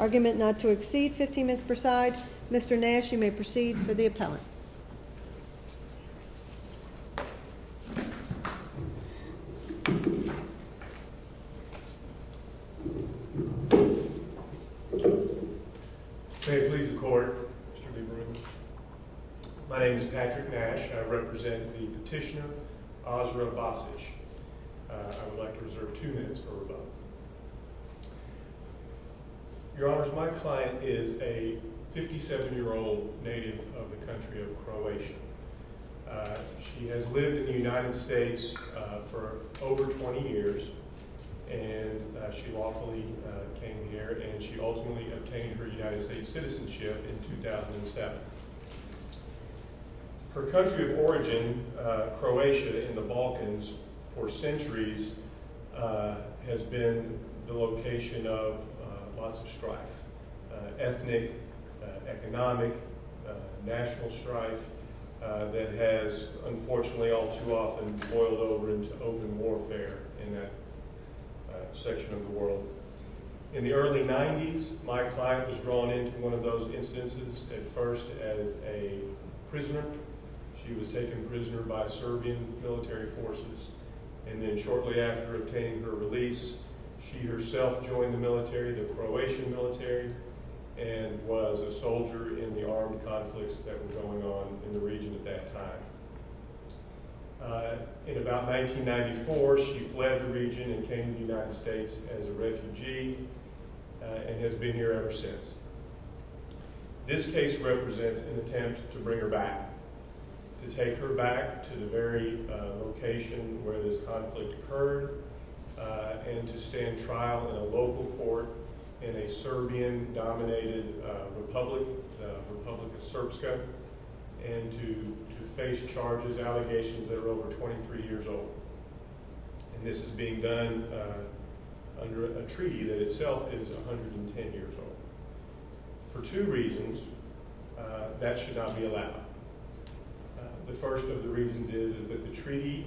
Argument not to exceed 15 minutes per side. Mr. Nash, you may proceed for the appellate. May it please the court, Mr. Lieberman. My name is Patrick Nash. I represent the petitioner, Azra Basich. I would like to reserve two minutes for rebuttal. Your Honors, my client is a Croatian. She has lived in the United States for over 20 years and she lawfully came here and she ultimately obtained her United States citizenship in 2007. Her country of origin, Croatia, in the Balkans, for centuries has been the location of lots of strife. Ethnic, economic, national strife that has unfortunately all too often boiled over into open warfare in that section of the world. In the early 90s, my client was drawn into one of those instances at first as a prisoner. She was taken prisoner by Serbian military forces and then shortly after obtaining her release, she herself joined the military, the Croatian military, and was a soldier in the armed conflicts that were going on in the region at that time. In about 1994, she fled the region and came to the United States as a refugee and has been here ever since. This case represents an attempt to bring her back, to take her back to the very location where this conflict occurred and to stand trial in a local court in a Serbian-dominated republic, Republika Srpska, and to face charges, allegations that are over 23 years old. And this is being done under a treaty that itself is 110 years old. For two reasons, that should not be allowed. The first of the reasons is that the treaty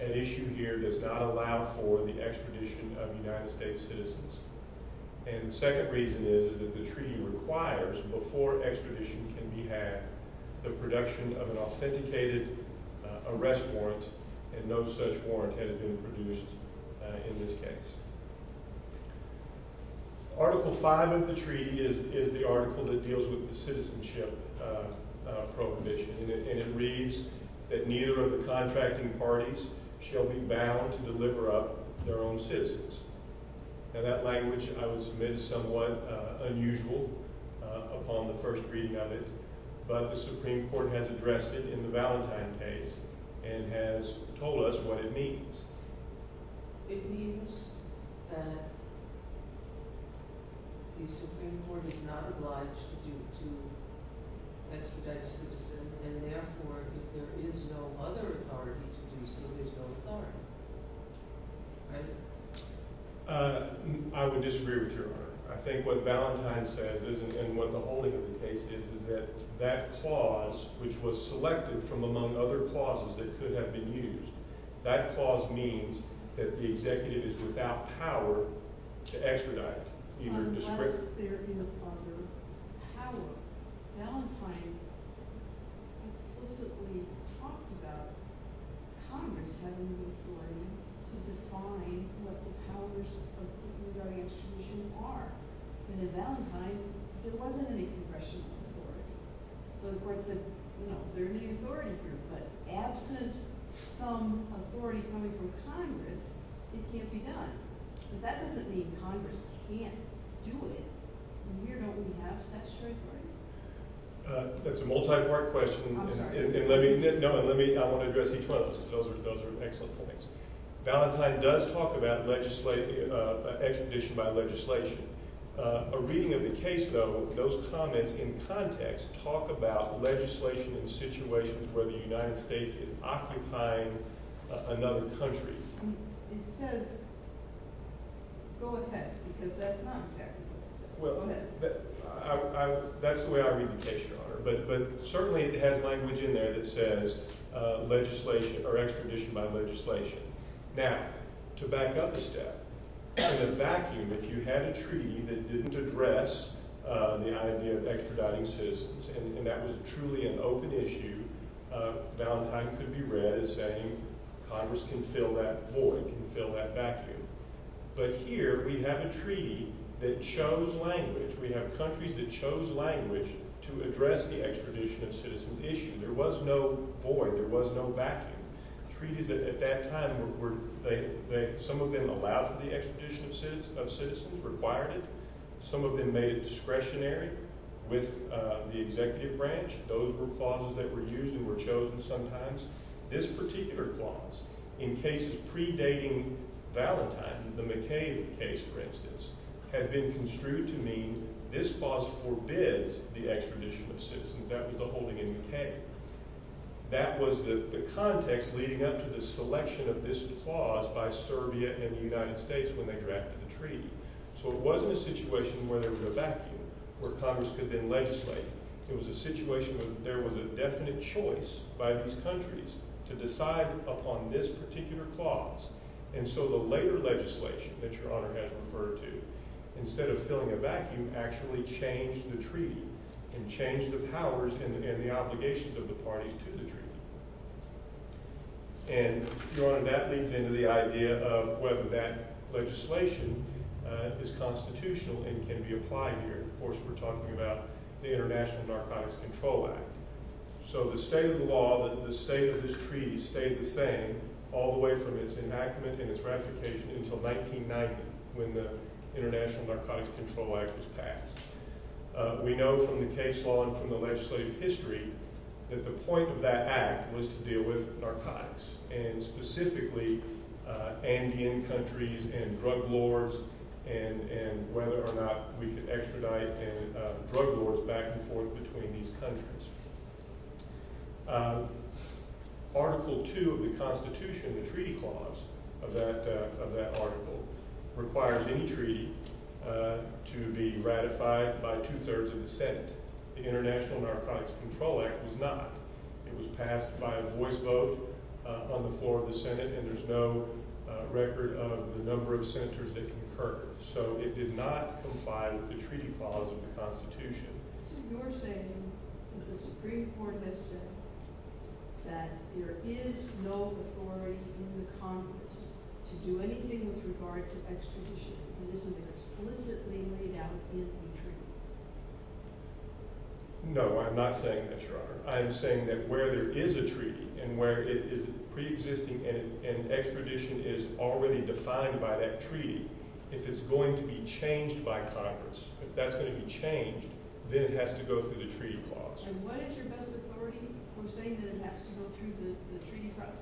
at issue here does not allow for the extradition of United States citizens. And the second reason is that the treaty requires, before extradition can be had, the production of an authenticated arrest warrant and no such warrant has been produced in this case. Article 5 of the treaty is the article that deals with the citizenship prohibition and it reads that neither of the contracting parties shall be bound to deliver up their own citizens. Now that language, I would submit, is somewhat unusual upon the first reading of it, but the Supreme Court has addressed it in the Valentine case and has told us what it means. It means that the Supreme Court is not obliged to extradite a citizen and therefore, if there is no other authority to do so, there's no harm. Right? I would disagree with Your Honor. I think what Valentine says is, and what the holding of the case is, is that that clause, which was selected from among other clauses that could have been used, that clause means that the executive is without power to extradite. Unless there is other power. Valentine explicitly talked about Congress having the authority to define what the powers of extradition are. And in Valentine, there wasn't any congressional authority. So the court said, you know, there may be authority here, but absent some authority coming from Congress, it can't be done. But that doesn't mean Congress can't do it. And here, don't we have statutory authority? That's a multi-part question. I'm sorry. No, and let me, I want to address each one of those. Those are excellent points. Valentine does talk about legislation, extradition by legislation. A reading of the case, though, those comments in context talk about legislation in situations where the United States is occupying another country. It says, go ahead, because that's not exactly what it says. Go ahead. Well, that's the way I read the case, Your Honor. But certainly it has language in there that says legislation, or extradition by legislation. Now, to back up a step, in a vacuum, if you had a treaty that didn't address the idea of extraditing citizens, and that was truly an open issue, Valentine could be read as saying, Congress can fill that void, can fill that vacuum. But here, we have a treaty that chose language. We have countries that chose language to address the extradition of citizens issue. There was no void. There was no vacuum. Treaties at that time were, some of them allowed for the extradition of citizens, required it. Some of them made it discretionary with the executive branch. Those were clauses that were used and were chosen sometimes. This particular clause, in cases predating Valentine, the McCain case, for instance, had been construed to mean this clause forbids the extradition of citizens. That was the holding in McCain. That was the context leading up to the selection of this clause by Serbia and the United States when they drafted the treaty. So it wasn't a situation where there was a vacuum, where Congress could then legislate. It was a situation where there was a definite choice by these countries to decide upon this particular clause. And so the later legislation that Your Honor has referred to, instead of the treaty, can change the powers and the obligations of the parties to the treaty. And Your Honor, that leads into the idea of whether that legislation is constitutional and can be applied here. Of course, we're talking about the International Narcotics Control Act. So the state of the law, the state of this treaty stayed the same all the way from its enactment and its ratification until 1990 when the International Narcotics Control Act was passed. We know from the case law and from the legislative history that the point of that act was to deal with narcotics, and specifically Andean countries and drug lords and whether or not we could extradite drug lords back and forth between these countries. Article 2 of the Constitution, the treaty clause of that article, requires any treaty to be ratified by two-thirds of the Senate. The International Narcotics Control Act was not. It was passed by a voice vote on the floor of the Senate, and there's no record of the number of senators that concurred. So it did not comply with the treaty clause of the Constitution. So you're saying that the Supreme Court has said that there is no authority in the Congress to do anything with regard to extradition that isn't explicitly laid out in the treaty? No, I'm not saying that, Your Honor. I'm saying that where there is a treaty and where it is preexisting and extradition is already defined by that treaty, if it's going to be changed by Congress, if that's going to be changed, then it has to go through the treaty clause. And what is your best authority for saying that it has to go through the treaty process?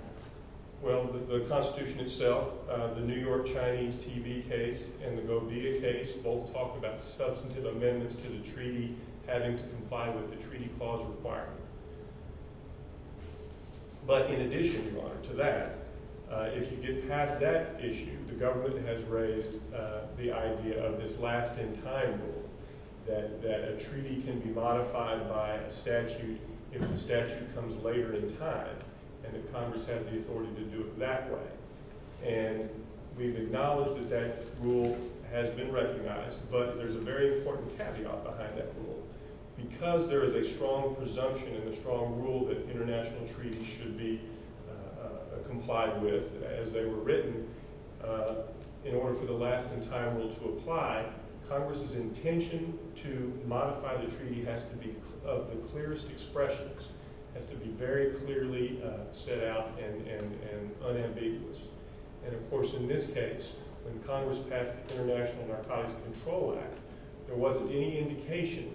Well, the Constitution itself, the New York Chinese TB case and the Govia case both talk about substantive amendments to the treaty having to comply with the treaty clause requirement. But in addition, Your Honor, to that, if you get past that issue, the government has raised the idea of this last-in-time rule, that a Congress has the authority to do it that way. And we've acknowledged that that rule has been recognized, but there's a very important caveat behind that rule. Because there is a strong presumption and a strong rule that international treaties should be complied with as they were written, in order for the last-in-time rule to apply, Congress's intention to modify the treaty has to be, of the clearest expressions, has to be very clearly set out and unambiguous. And of course, in this case, when Congress passed the International Narcotics Control Act, there wasn't any indication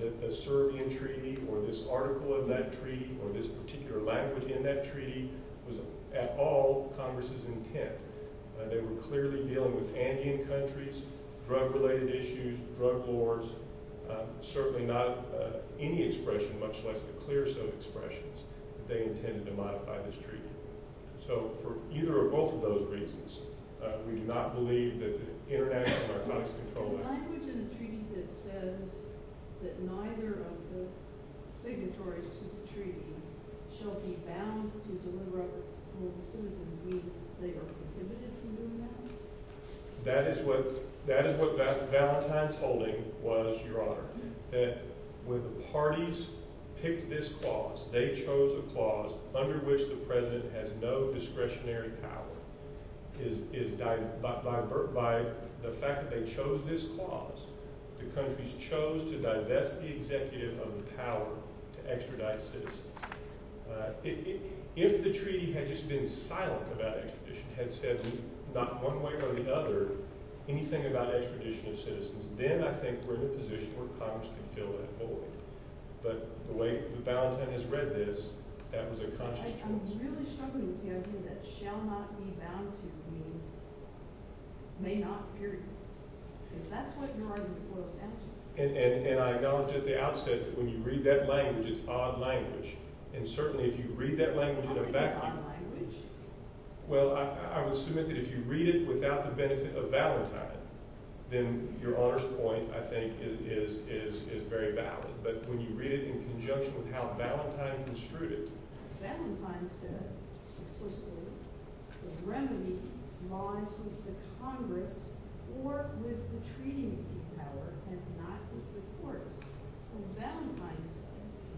that the Serbian treaty or this article of that treaty or this particular language in that treaty was at all Congress's intent. They were clearly dealing with Andean countries, drug-related issues, drug wars. Certainly not any expression, much less the clearest of expressions, that they intended to modify this treaty. So for either or both of those reasons, we do not believe that the International Narcotics Control Act... The language in the treaty that says that neither of the signatories to the treaty shall be bound to deliver on the citizens' needs, that they are prohibited from doing that? That is what Valentine's holding was, Your Honor. That when the parties picked this clause, they chose a clause under which the President has no discretionary power. By the fact that they chose this clause, the countries chose to divest the executive of the power to extradite citizens. If the treaty had just been silent about extradition, had said not one way or the other anything about extradition of citizens, then I think we're in a position where Congress can fill that void. But the way that Valentine has read this, that was a conscious choice. I'm really struggling with the idea that shall not be bound to means may not, period. Because that's what you're arguing for a statute. And I acknowledge at the outset that when you read that language, it's odd language. And certainly if you read that language in effect... How is it odd language? Well, I would submit that if you read it without the benefit of Valentine, then Your Honor's point, I think, is very valid. But when you read it in conjunction with how Valentine construed it... Well, Valentine said,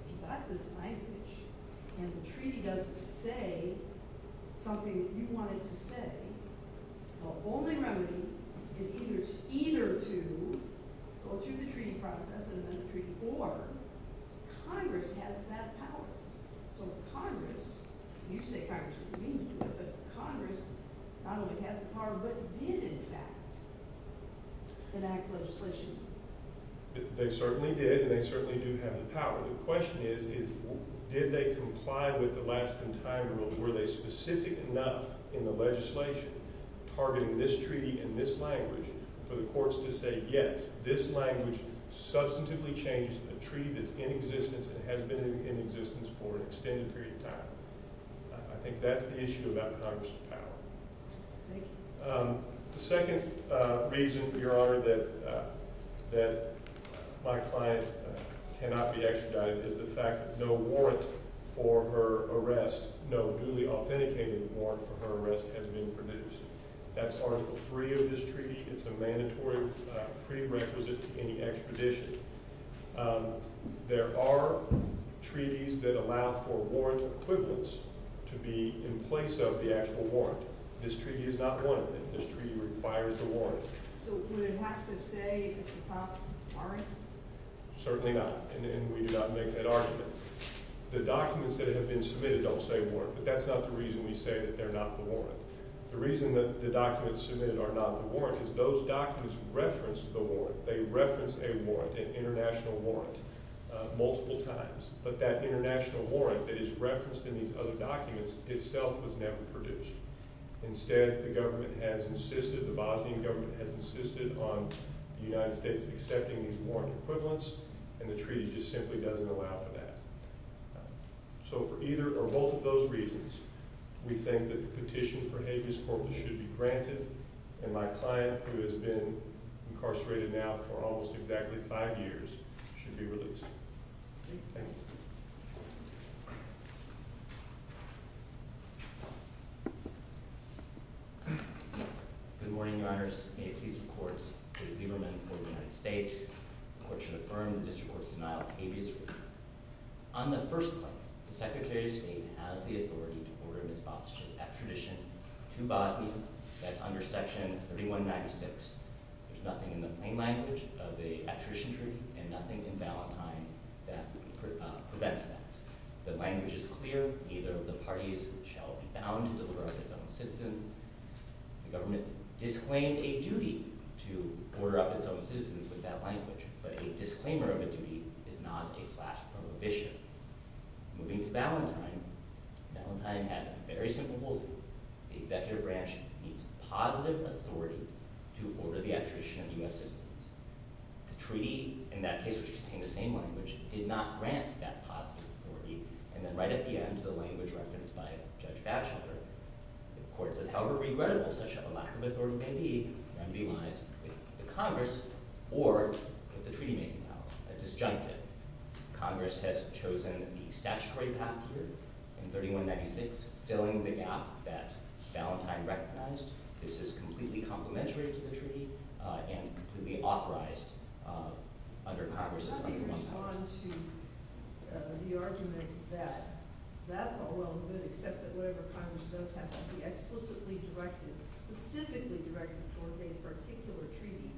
if you've got this language and the treaty doesn't say something that you want it to say, the only remedy is either to go through the treaty process and amend the treaty, or Congress has that power. So if Congress, you say Congress would convene the treaty, but Congress not only has the power, but did in fact enact legislation. They certainly did, and they certainly do have the power. The question is, did they comply with the last-in-time rule? Were they specific enough in the legislation targeting this treaty and this language for the courts to say, yes, this language substantively changes a treaty that's in existence and has been in existence for an extended period of time? I think that's the issue about Congress's power. Thank you. The second reason, Your Honor, that my client cannot be extradited is the fact that no warrant for her arrest, no newly authenticated warrant for her arrest has been produced. That's Article 3 of this treaty. It's a mandatory prerequisite to any extradition. There are treaties that allow for warrant equivalents to be in place of the actual warrant. This treaty is not one of them. This treaty requires a warrant. So would it have to say warrant? Certainly not, and we do not make that argument. The documents that have been submitted don't say warrant, but that's not the reason we say that they're not the warrant. The reason that the documents submitted are not the warrant is those documents reference the warrant. They reference a warrant, an international warrant, multiple times, but that international warrant that is referenced in these other documents itself was never produced. Instead, the government has insisted, the Bosnian government has insisted on the United States accepting these warrant equivalents, and the treaty just simply doesn't allow for that. So for either or both of those reasons, we think that the petition for habeas corpus should be granted, and my client, who has been incarcerated now for almost exactly five years, should be released. Thank you. Good morning, Your Honors. May it please the courts. David Lieberman, court of the United States. The court should affirm the district court's denial of habeas rupture. On the first one, the Secretary of State has the authority to order Ms. Basich's extradition to Bosnia. That's under Section 3196. There's nothing in the plain language of the extradition treaty, and nothing in Valentine that prevents that. The language is clear. Neither of the parties shall be bound to deliver up its own citizens. The government disclaimed a duty to order up its own citizens with that language, but a disclaimer of a duty is not a flat prohibition. Moving to Valentine, Valentine had a very simple ruling. The executive branch needs positive authority to order the extradition of U.S. citizens. The treaty, in that case, which contained the same language, did not grant that positive authority, and then right at the end, the language referenced by Judge Batchelder, the court says, however regrettable such a lack of authority may be, remedy lies with the Congress or with the State. Congress has chosen the statutory path here in 3196, filling the gap that Valentine recognized. This is completely complementary to the treaty and completely authorized under Congress. How do you respond to the argument that that's all well and good, except that whatever Congress does has to be explicitly directed, specifically directed towards a particular treaty,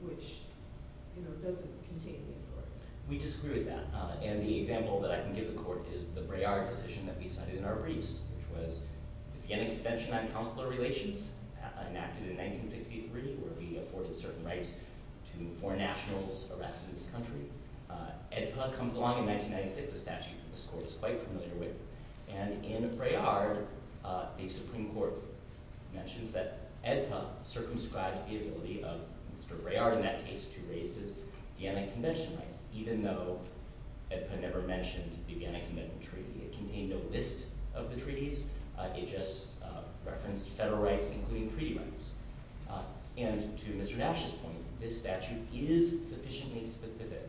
which doesn't contain the authority? We disagree with that, and the example that I can give the court is the Braillard decision that we cited in our briefs, which was the Vienna Convention on Consular Relations, enacted in 1963, where we afforded certain rights to foreign nationals arrested in this country. AEDPA comes along in 1996, a statute that this court is quite familiar with, and in Braillard, the Supreme Court mentions that AEDPA circumscribed the ability of Mr. Braillard in that case to raise his Vienna Convention rights, even though AEDPA never mentioned the Vienna Convention treaty. It contained no list of the treaties, it just referenced federal rights, including treaty rights. And to Mr. Nash's point, this statute is sufficiently specific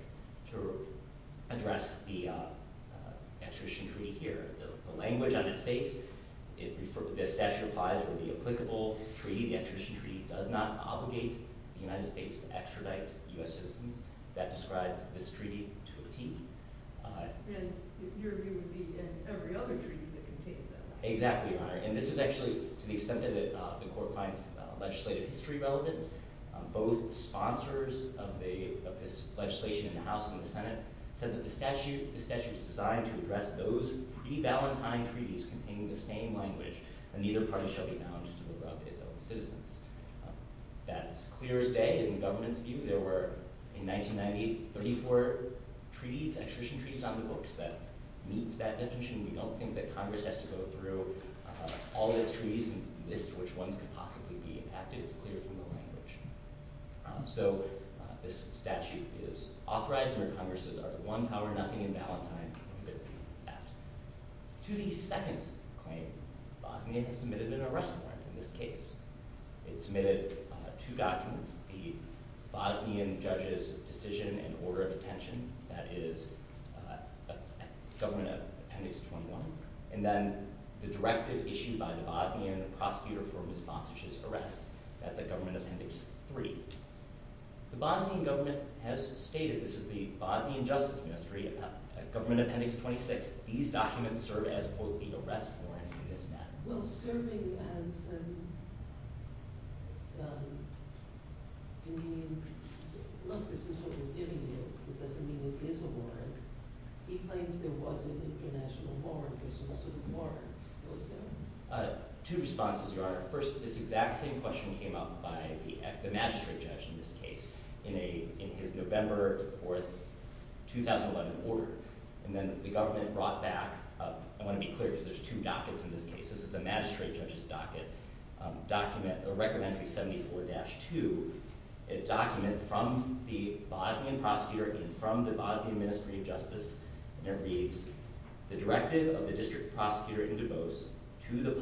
to address the extradition treaty here. The language on its face, the statute applies where the applicable treaty, the extradition treaty, does not obligate the United States to extradite U.S. citizens. That describes this treaty to a T. And your view would be in every other treaty that contains that. Exactly, Your Honor. And this is actually, to the extent that the court finds legislative history relevant, both sponsors of this legislation in the House and the Senate said that the statute is designed to address those pre-Valentine treaties containing the same language, and neither party shall be bound to deliver up its own citizens. That's clear as day in the government's view. There were, in 1990, 34 treaties, extradition treaties, on the books that meet that definition. We don't think that Congress has to go through all of its treaties and list which ones could possibly be impacted. It's clear from the language. So this statute is authorized where Congress says are there one power, nothing in Valentine, and that's the act. To the second claim, Bosnia has submitted an arrest warrant in this case. It submitted two documents, the Bosnian judge's decision and order of detention, that is Government Appendix 21, and then the directive issued by the Bosnian prosecutor for Ms. Basic's arrest, that's at Government Appendix 3. The Bosnian government has stated, this is the Bosnian Justice Ministry, at Government Appendix 26, these documents serve as both the arrest warrant for this matter. Well, serving as a... I mean, look, this is what we're giving you. It doesn't mean it is a warrant. He claims there was an international warrant. There's no such warrant. Two responses, Your Honor. First, this exact same question came up by the magistrate judge in this case in his November 4, 2011, order. And then the government brought back, I want to be clear because there's two dockets in this case. This is the magistrate judge's docket, document, Record Entry 74-2, a document from the Bosnian prosecutor and from the Bosnian Ministry of Justice, and it reads, the directive of the district prosecutor in Dubose to the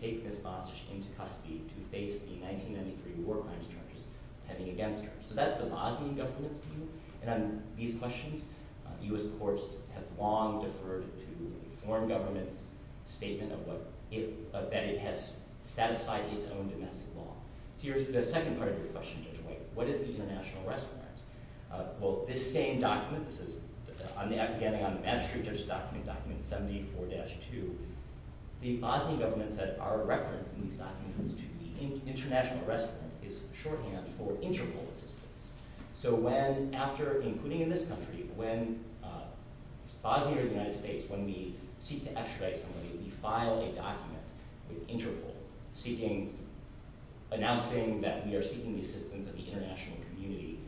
take Ms. Basic into custody to face the 1993 war crimes charges pending against her. So that's the Bosnian government's view, and on these questions, U.S. courts have long deferred to the foreign government's statement that it has satisfied its own domestic law. The second part of your question, Judge White, what is the international arrest warrant? Well, this same document, this is, again, on the magistrate judge's document, document 74-2, the Bosnian government said our reference in these documents to the international arrest warrant is shorthand for Interpol assistance. So when, after, including in this country, when Bosnia or the United States, when we seek to extradite somebody, we file a document with Interpol seeking, announcing that we are seeking the assistance of the international community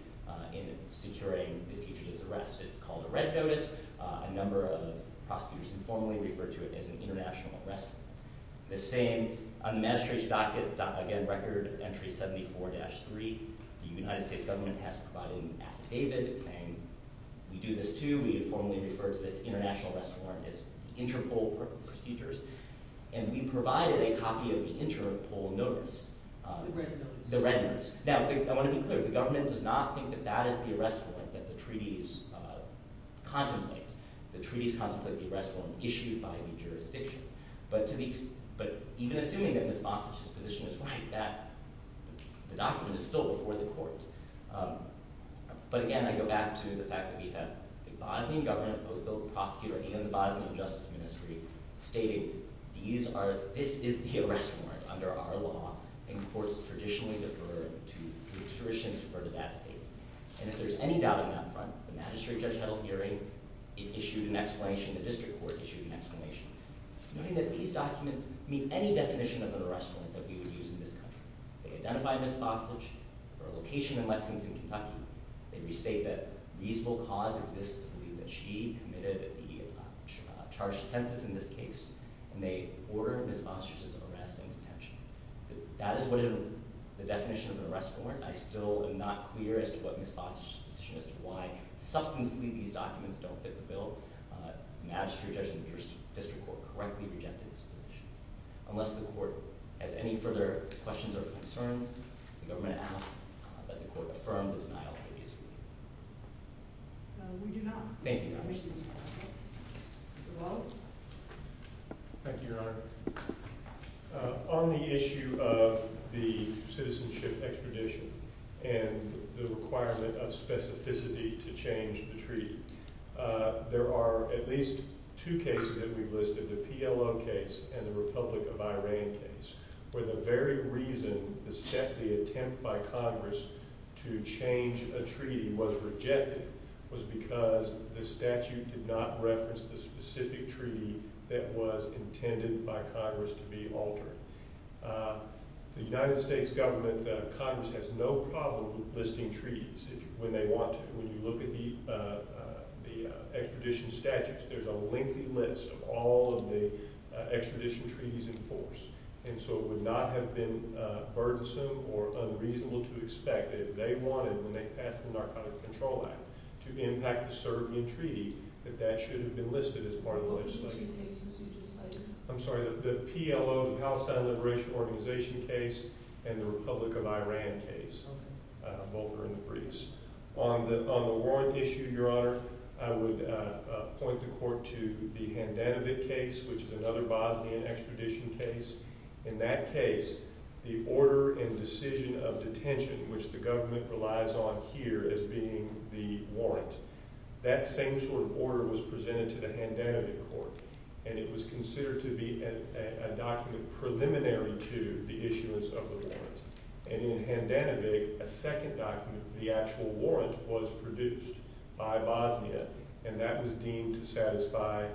in securing the fugitive's arrest. It's called a red notice. A number of prosecutors informally refer to it as an international arrest warrant. The same, on the magistrate's document, again, record entry 74-3, the United States government has provided an affidavit saying we do this too, we informally refer to this international arrest warrant as Interpol procedures, and we provided a copy of the Interpol notice, the red notice. Now, I want to be clear, the government does not think that that is the arrest warrant that the treaties contemplate. The treaties contemplate the arrest warrant issued by the jurisdiction. But even assuming that Ms. Bostic's position is right, the document is still before the court. But again, I go back to the fact that we have the Bosnian government, both the prosecutor and the Bosnian justice ministry, stating these are, this is the arrest warrant under our law, and courts traditionally defer to the jurisdiction to refer to that statement. And if there's any doubting that front, the magistrate judge held a hearing, it issued an explanation, the district court issued an explanation, noting that these documents meet any definition of an arrest warrant that we would use in this country. They identify Ms. Bostic, her location in Lexington, Kentucky, they restate that reasonable cause exists to believe that she committed the charged offenses in this case, and they order Ms. Bostic's arrest and detention. That is what the definition of an arrest warrant, I still am not clear as to what Ms. Bostic's position as to why, substantively, these documents don't fit the bill. The magistrate judge and the district court correctly rejected this position. Unless the court has any further questions or concerns, the government asks that the court affirm the denial We do not. Thank you, Your Honor. On the issue of the citizenship extradition, and the requirement of specificity to change the treaty, there are at least two cases that we've listed, the PLO case and the Republic of Iran case, where the very reason the attempt by Congress to change a treaty was rejected was because the statute did not reference the specific treaty that was intended by Congress to be altered. The United States government, Congress has no problem listing treaties when they want to. When you look at the extradition statutes, there's a lengthy list of all of the extradition treaties in force, and so it would not have been burdensome or unreasonable to expect that if they wanted, when they passed the Narcotics Control Act, to impact a certain treaty, that that should have been listed as part of the legislative process. What were the two cases you just cited? I'm sorry, the PLO, the Palestine Liberation Organization case, and the Republic of Iran case. Both are in the briefs. On the warrant issue, Your Honor, I would point the court to the Handanovic case, which is another Bosnian extradition case. In that case, the order and decision of detention, which the government relies on here as being the warrant, that same sort of order was presented to the Handanovic court, and it was considered to be a document preliminary to the issuance of the warrant. And in Handanovic, a second document, the actual warrant, was produced by Bosnia, and that was deemed to satisfy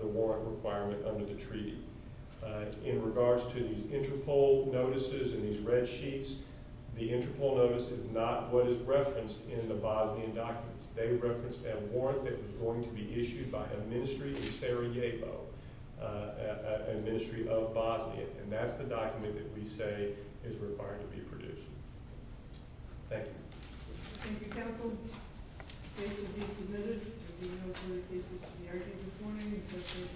the warrant requirement under the treaty. In regards to these Interpol notices and these red sheets, the Interpol notice is not what is referenced in the Bosnian documents. They referenced a warrant that was going to be issued by a ministry in Sarajevo, a ministry of Bosnia, and that's the document that we say is required to be produced. Thank you. Thank you, counsel. The case will be submitted. There will be no further cases to be argued this morning.